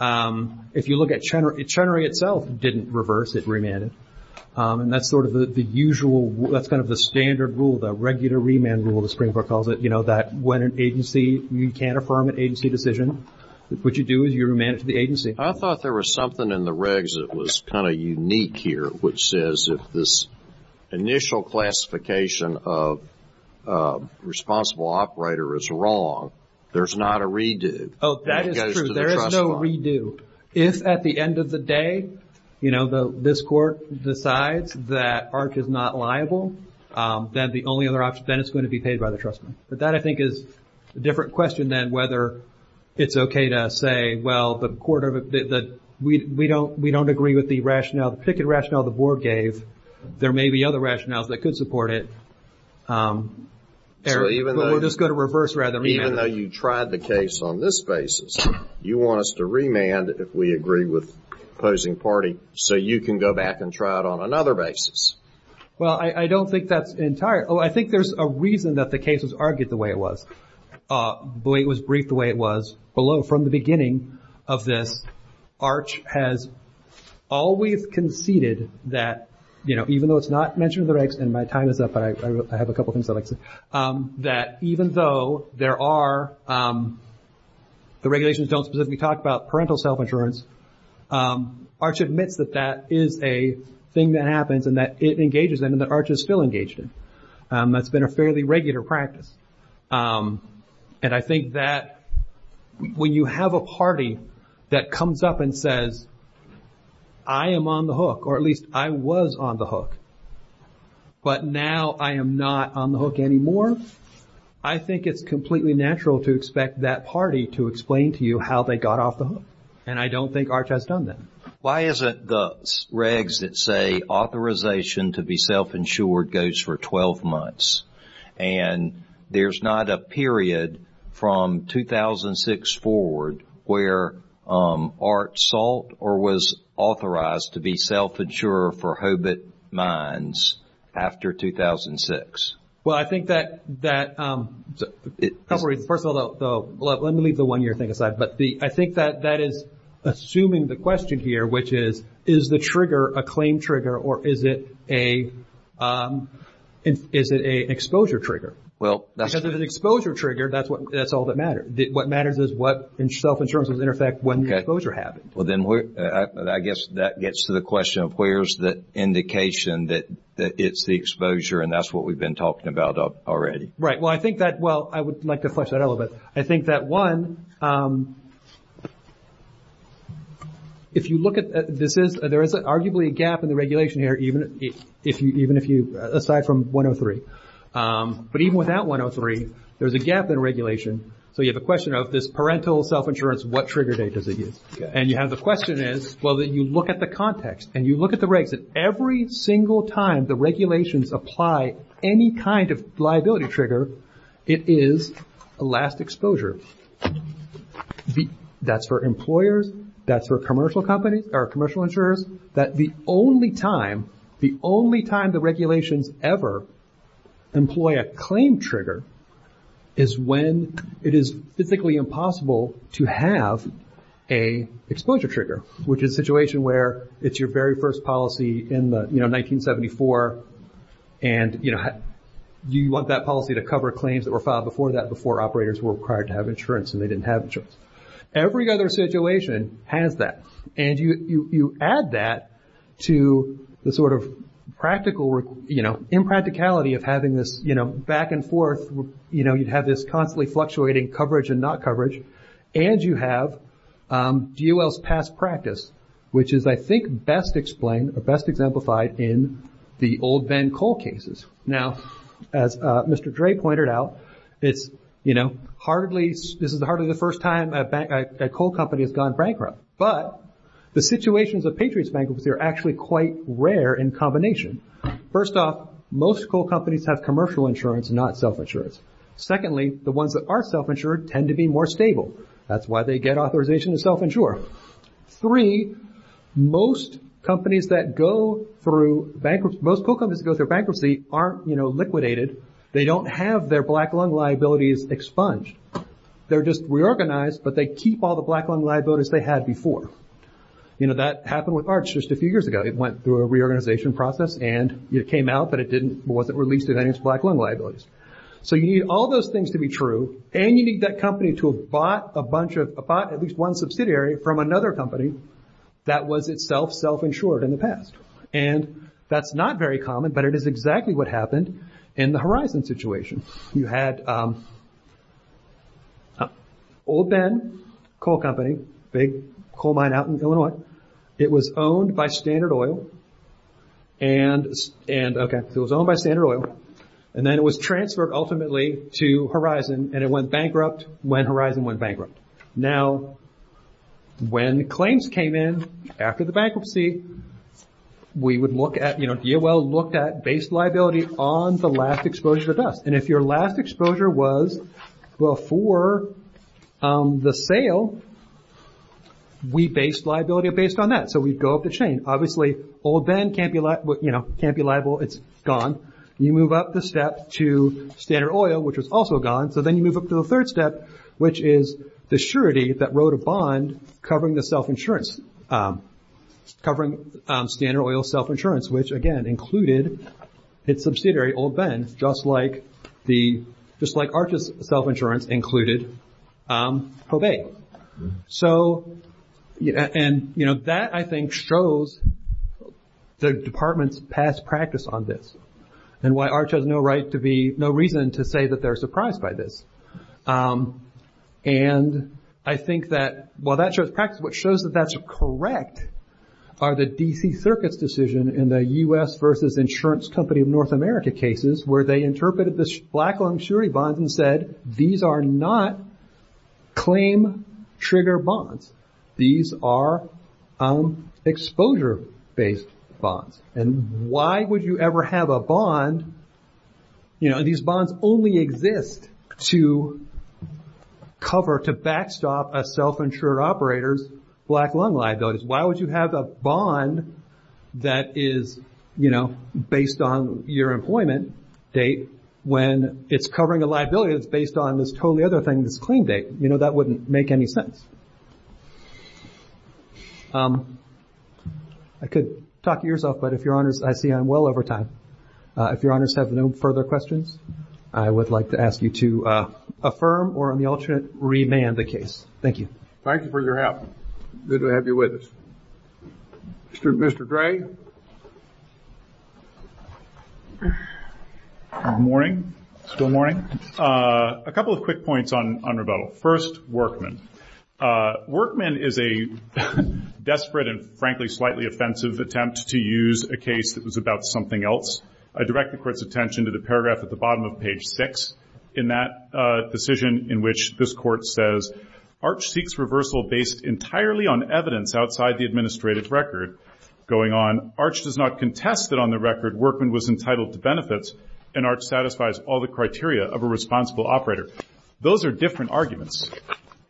If you look at Chenery, Chenery itself didn't reverse it, remanded. And that's sort of the usual, that's kind of the standard rule, the regular remand rule, the Supreme Court calls it, that when an agency, you can't affirm an agency decision, what you do is you remand it to the agency. I thought there was something in the regs that was kind of unique here, which says if this initial classification of responsible operator is wrong, there's not a redo. Oh, that is true. There is no redo. If at the end of the day, you know, this court decides that ARC is not liable, then the only other option, then it's going to be paid by the trust fund. But that, I think, is a different question than whether it's okay to say, well, the court, we don't agree with the rationale, the particular rationale the board gave. There may be other rationales that could support it. But we'll just go to reverse rather than remand. Even though you tried the case on this basis, you want us to remand if we agree with opposing party, so you can go back and try it on another basis. Well, I don't think that's entirely. I think there's a reason that the case was argued the way it was, the way it was briefed the way it was. From the beginning of this, ARC has always conceded that, you know, even though it's not mentioned in the regs, and my time is up, but I have a couple things I'd like to say, that even though there are, the regulations don't specifically talk about parental self-insurance, ARC admits that that is a thing that happens and that it engages them and that ARC is still engaged in. That's been a fairly regular practice. And I think that when you have a party that comes up and says, I am on the hook, or at least I was on the hook, but now I am not on the hook anymore, I think it's completely natural to expect that party to explain to you how they got off the hook. And I don't think ARC has done that. Why isn't the regs that say authorization to be self-insured goes for 12 months? And there's not a period from 2006 forward where ARC sought or was authorized to be self-insured for HOBIT mines after 2006. Well, I think that, first of all, let me leave the one-year thing aside, but I think that that is assuming the question here, which is, is the trigger a claim trigger or is it an exposure trigger? Because if it's an exposure trigger, that's all that matters. What matters is what self-insurance was in effect when the exposure happened. Well, then I guess that gets to the question of where's the indication that it's the exposure, and that's what we've been talking about already. Right. Well, I think that, well, I would like to flesh that out a little bit. I think that, one, if you look at this, there is arguably a gap in the regulation here, even if you, aside from 103. But even without 103, there's a gap in regulation. So you have a question of this parental self-insurance, what trigger date does it use? And you have the question is, well, then you look at the context, and you look at the regs, and every single time the regulations apply any kind of liability trigger, it is a last exposure. That's for employers, that's for commercial companies or commercial insurers, that the only time, the only time the regulations ever employ a claim trigger is when it is physically impossible to have a exposure trigger, which is a situation where it's your very first policy in 1974, and you want that policy to cover claims that were filed before that, before operators were required to have insurance and they didn't have insurance. Every other situation has that. And you add that to the sort of practical, you know, impracticality of having this, you know, back and forth, you know, you have this constantly fluctuating coverage and not coverage, and you have DOL's past practice, which is, I think, best explained, or best exemplified in the old Ben Cole cases. Now, as Mr. Dre pointed out, it's, you know, hardly, this is hardly the first time a coal company has gone bankrupt. But the situations of Patriot's bankruptcy are actually quite rare in combination. First off, most coal companies have commercial insurance, not self-insurance. Secondly, the ones that are self-insured tend to be more stable. That's why they get authorization to self-insure. Three, most companies that go through bankruptcy, most coal companies that go through bankruptcy aren't, you know, liquidated. They don't have their black lung liabilities expunged. They're just reorganized, but they keep all the black lung liabilities they had before. You know, that happened with Arch just a few years ago. It went through a reorganization process, and it came out, but it wasn't released with any of its black lung liabilities. So you need all those things to be true, and you need that company to have bought at least one subsidiary from another company that was itself self-insured in the past. And that's not very common, but it is exactly what happened in the Horizon situation. You had Old Ben Coal Company, big coal mine out in Illinois. It was owned by Standard Oil, and then it was transferred ultimately to Horizon, and it went bankrupt when Horizon went bankrupt. Now, when claims came in after the bankruptcy, we would look at, you know, DOL looked at base liability on the last exposure to dust. And if your last exposure was before the sale, we based liability based on that. So we'd go up the chain. Obviously, Old Ben can't be liable. It's gone. You move up the step to Standard Oil, which was also gone. So then you move up to the third step, which is the surety that wrote a bond covering the self-insurance, covering Standard Oil's self-insurance, which, again, included its subsidiary, Old Ben, just like ARCH's self-insurance included Cobay. And that, I think, shows the department's past practice on this and why ARCH has no reason to say that they're surprised by this. And I think that while that shows practice, what shows that that's correct are the D.C. Circuit's decision in the U.S. versus Insurance Company of North America cases where they interpreted this black long surety bond and said, these are not claim trigger bonds. These are exposure-based bonds. And why would you ever have a bond, you know, these bonds only exist to cover, to backstop a self-insured operator's black long liabilities. Why would you have a bond that is, you know, based on your employment date when it's covering a liability that's based on this totally other thing, this claim date? You know, that wouldn't make any sense. I could talk to yourself, but if Your Honors, I see I'm well over time. If Your Honors have no further questions, I would like to ask you to affirm or, on the alternate, remand the case. Thank you. Thank you for your help. Good to have you with us. Mr. Dray? Good morning. Still morning. A couple of quick points on rebuttal. First, Workman. Workman is a desperate and, frankly, slightly offensive attempt to use a case that was about something else. I direct the Court's attention to the paragraph at the bottom of page 6 in that decision in which this Court says, Arch seeks reversal based entirely on evidence outside the administrative record. Going on, Arch does not contest that on the record, Workman was entitled to benefits, and Arch satisfies all the criteria of a responsible operator. Those are different arguments.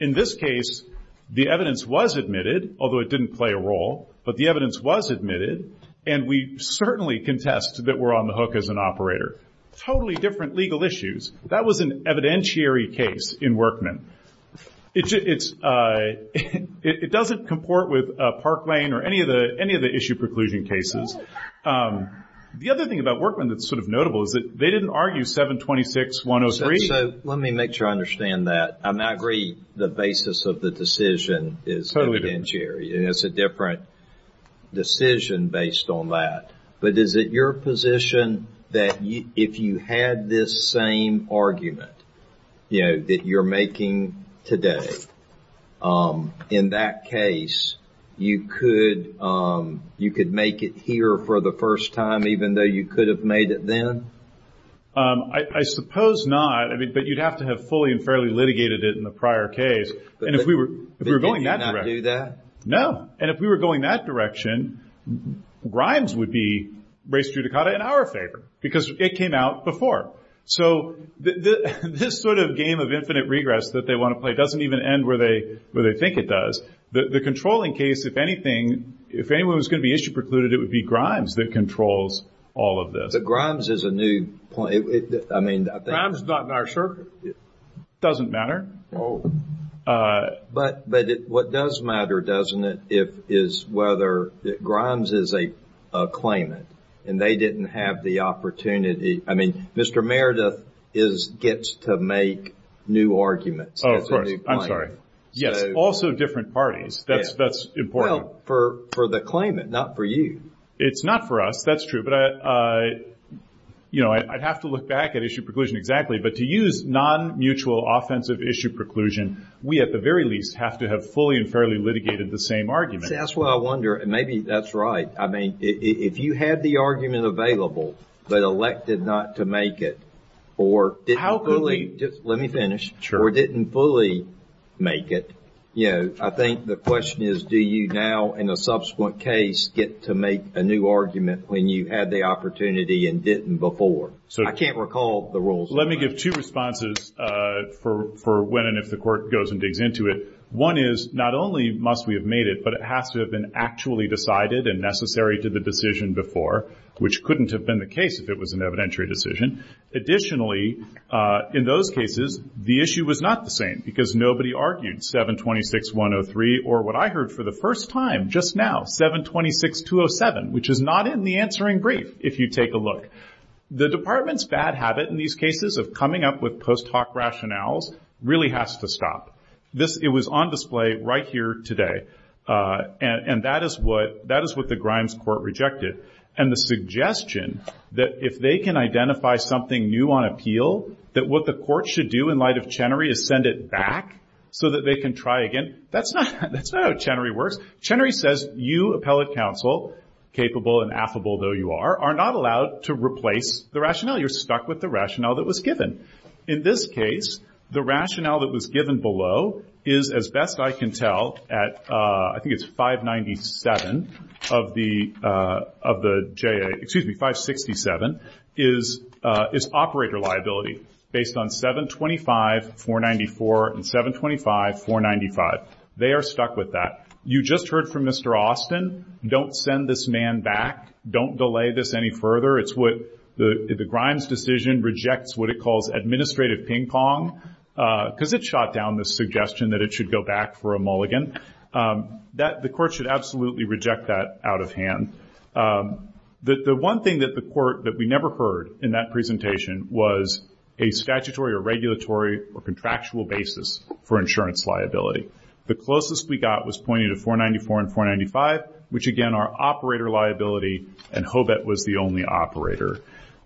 In this case, the evidence was admitted, although it didn't play a role, but the evidence was admitted, and we certainly contest that we're on the hook as an operator. Totally different legal issues. That was an evidentiary case in Workman. It doesn't comport with Park Lane or any of the issue preclusion cases. The other thing about Workman that's sort of notable is that they didn't argue 726-103. Let me make sure I understand that. I agree the basis of the decision is evidentiary. It's a different decision based on that. But is it your position that if you had this same argument, you know, that you're making today, in that case you could make it here for the first time, even though you could have made it then? I suppose not. But you'd have to have fully and fairly litigated it in the prior case. They did not do that? And if we were going that direction, Grimes would be res judicata in our favor, because it came out before. So this sort of game of infinite regress that they want to play doesn't even end where they think it does. The controlling case, if anyone was going to be issue precluded, it would be Grimes that controls all of this. But Grimes is a new point. Grimes is not in our circuit. It doesn't matter. But what does matter, doesn't it, is whether Grimes is a claimant and they didn't have the opportunity. I mean, Mr. Meredith gets to make new arguments. Oh, of course. I'm sorry. Yes, also different parties. That's important. Well, for the claimant, not for you. It's not for us. That's true. But, you know, I'd have to look back at issue preclusion exactly. But to use non-mutual offensive issue preclusion, we at the very least have to have fully and fairly litigated the same argument. See, that's why I wonder, and maybe that's right. I mean, if you had the argument available but elected not to make it or didn't fully make it, you know, I think the question is, do you now in a subsequent case get to make a new argument when you had the opportunity and didn't before? I can't recall the rules. Let me give two responses for when and if the court goes and digs into it. One is not only must we have made it, but it has to have been actually decided and necessary to the decision before, which couldn't have been the case if it was an evidentiary decision. Additionally, in those cases, the issue was not the same because nobody argued 726-103 or what I heard for the first time just now, 726-207, which is not in the answering brief if you take a look. The department's bad habit in these cases of coming up with post hoc rationales really has to stop. It was on display right here today, and that is what the Grimes court rejected. And the suggestion that if they can identify something new on appeal, that what the court should do in light of Chenery is send it back so that they can try again, that's not how Chenery works. Chenery says you, appellate counsel, capable and affable though you are, are not allowed to replace the rationale. You're stuck with the rationale that was given. In this case, the rationale that was given below is, as best I can tell, at I think it's 597 of the JA, excuse me, 567, is operator liability based on 725-494 and 725-495. They are stuck with that. You just heard from Mr. Austin. Don't send this man back. Don't delay this any further. It's what the Grimes decision rejects what it calls administrative ping-pong because it shot down the suggestion that it should go back for a mulligan. The court should absolutely reject that out of hand. The one thing that the court that we never heard in that presentation was a statutory or regulatory or contractual basis for insurance liability. The closest we got was pointing to 494 and 495, which again are operator liability, and Hobet was the only operator.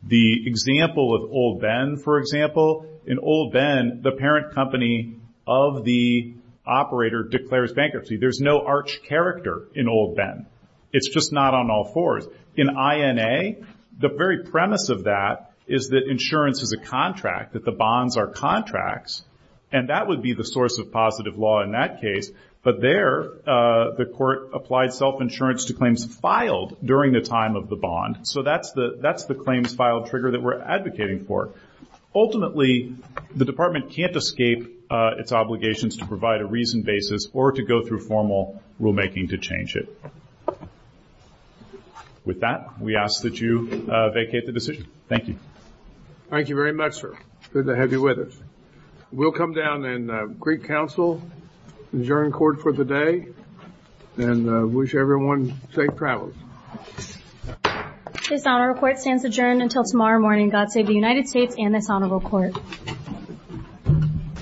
The example of Old Ben, for example, in Old Ben, the parent company of the operator declares bankruptcy. There's no arch character in Old Ben. It's just not on all fours. In INA, the very premise of that is that insurance is a contract, that the bonds are contracts, and that would be the source of positive law in that case. But there, the court applied self-insurance to claims filed during the time of the bond. So that's the claims filed trigger that we're advocating for. Ultimately, the department can't escape its obligations to provide a reasoned basis or to go through formal rulemaking to change it. With that, we ask that you vacate the decision. Thank you. Thank you very much, sir. Good to have you with us. We'll come down and greet counsel, adjourn court for the day, and wish everyone safe travels. This honorable court stands adjourned until tomorrow morning. God save the United States and this honorable court.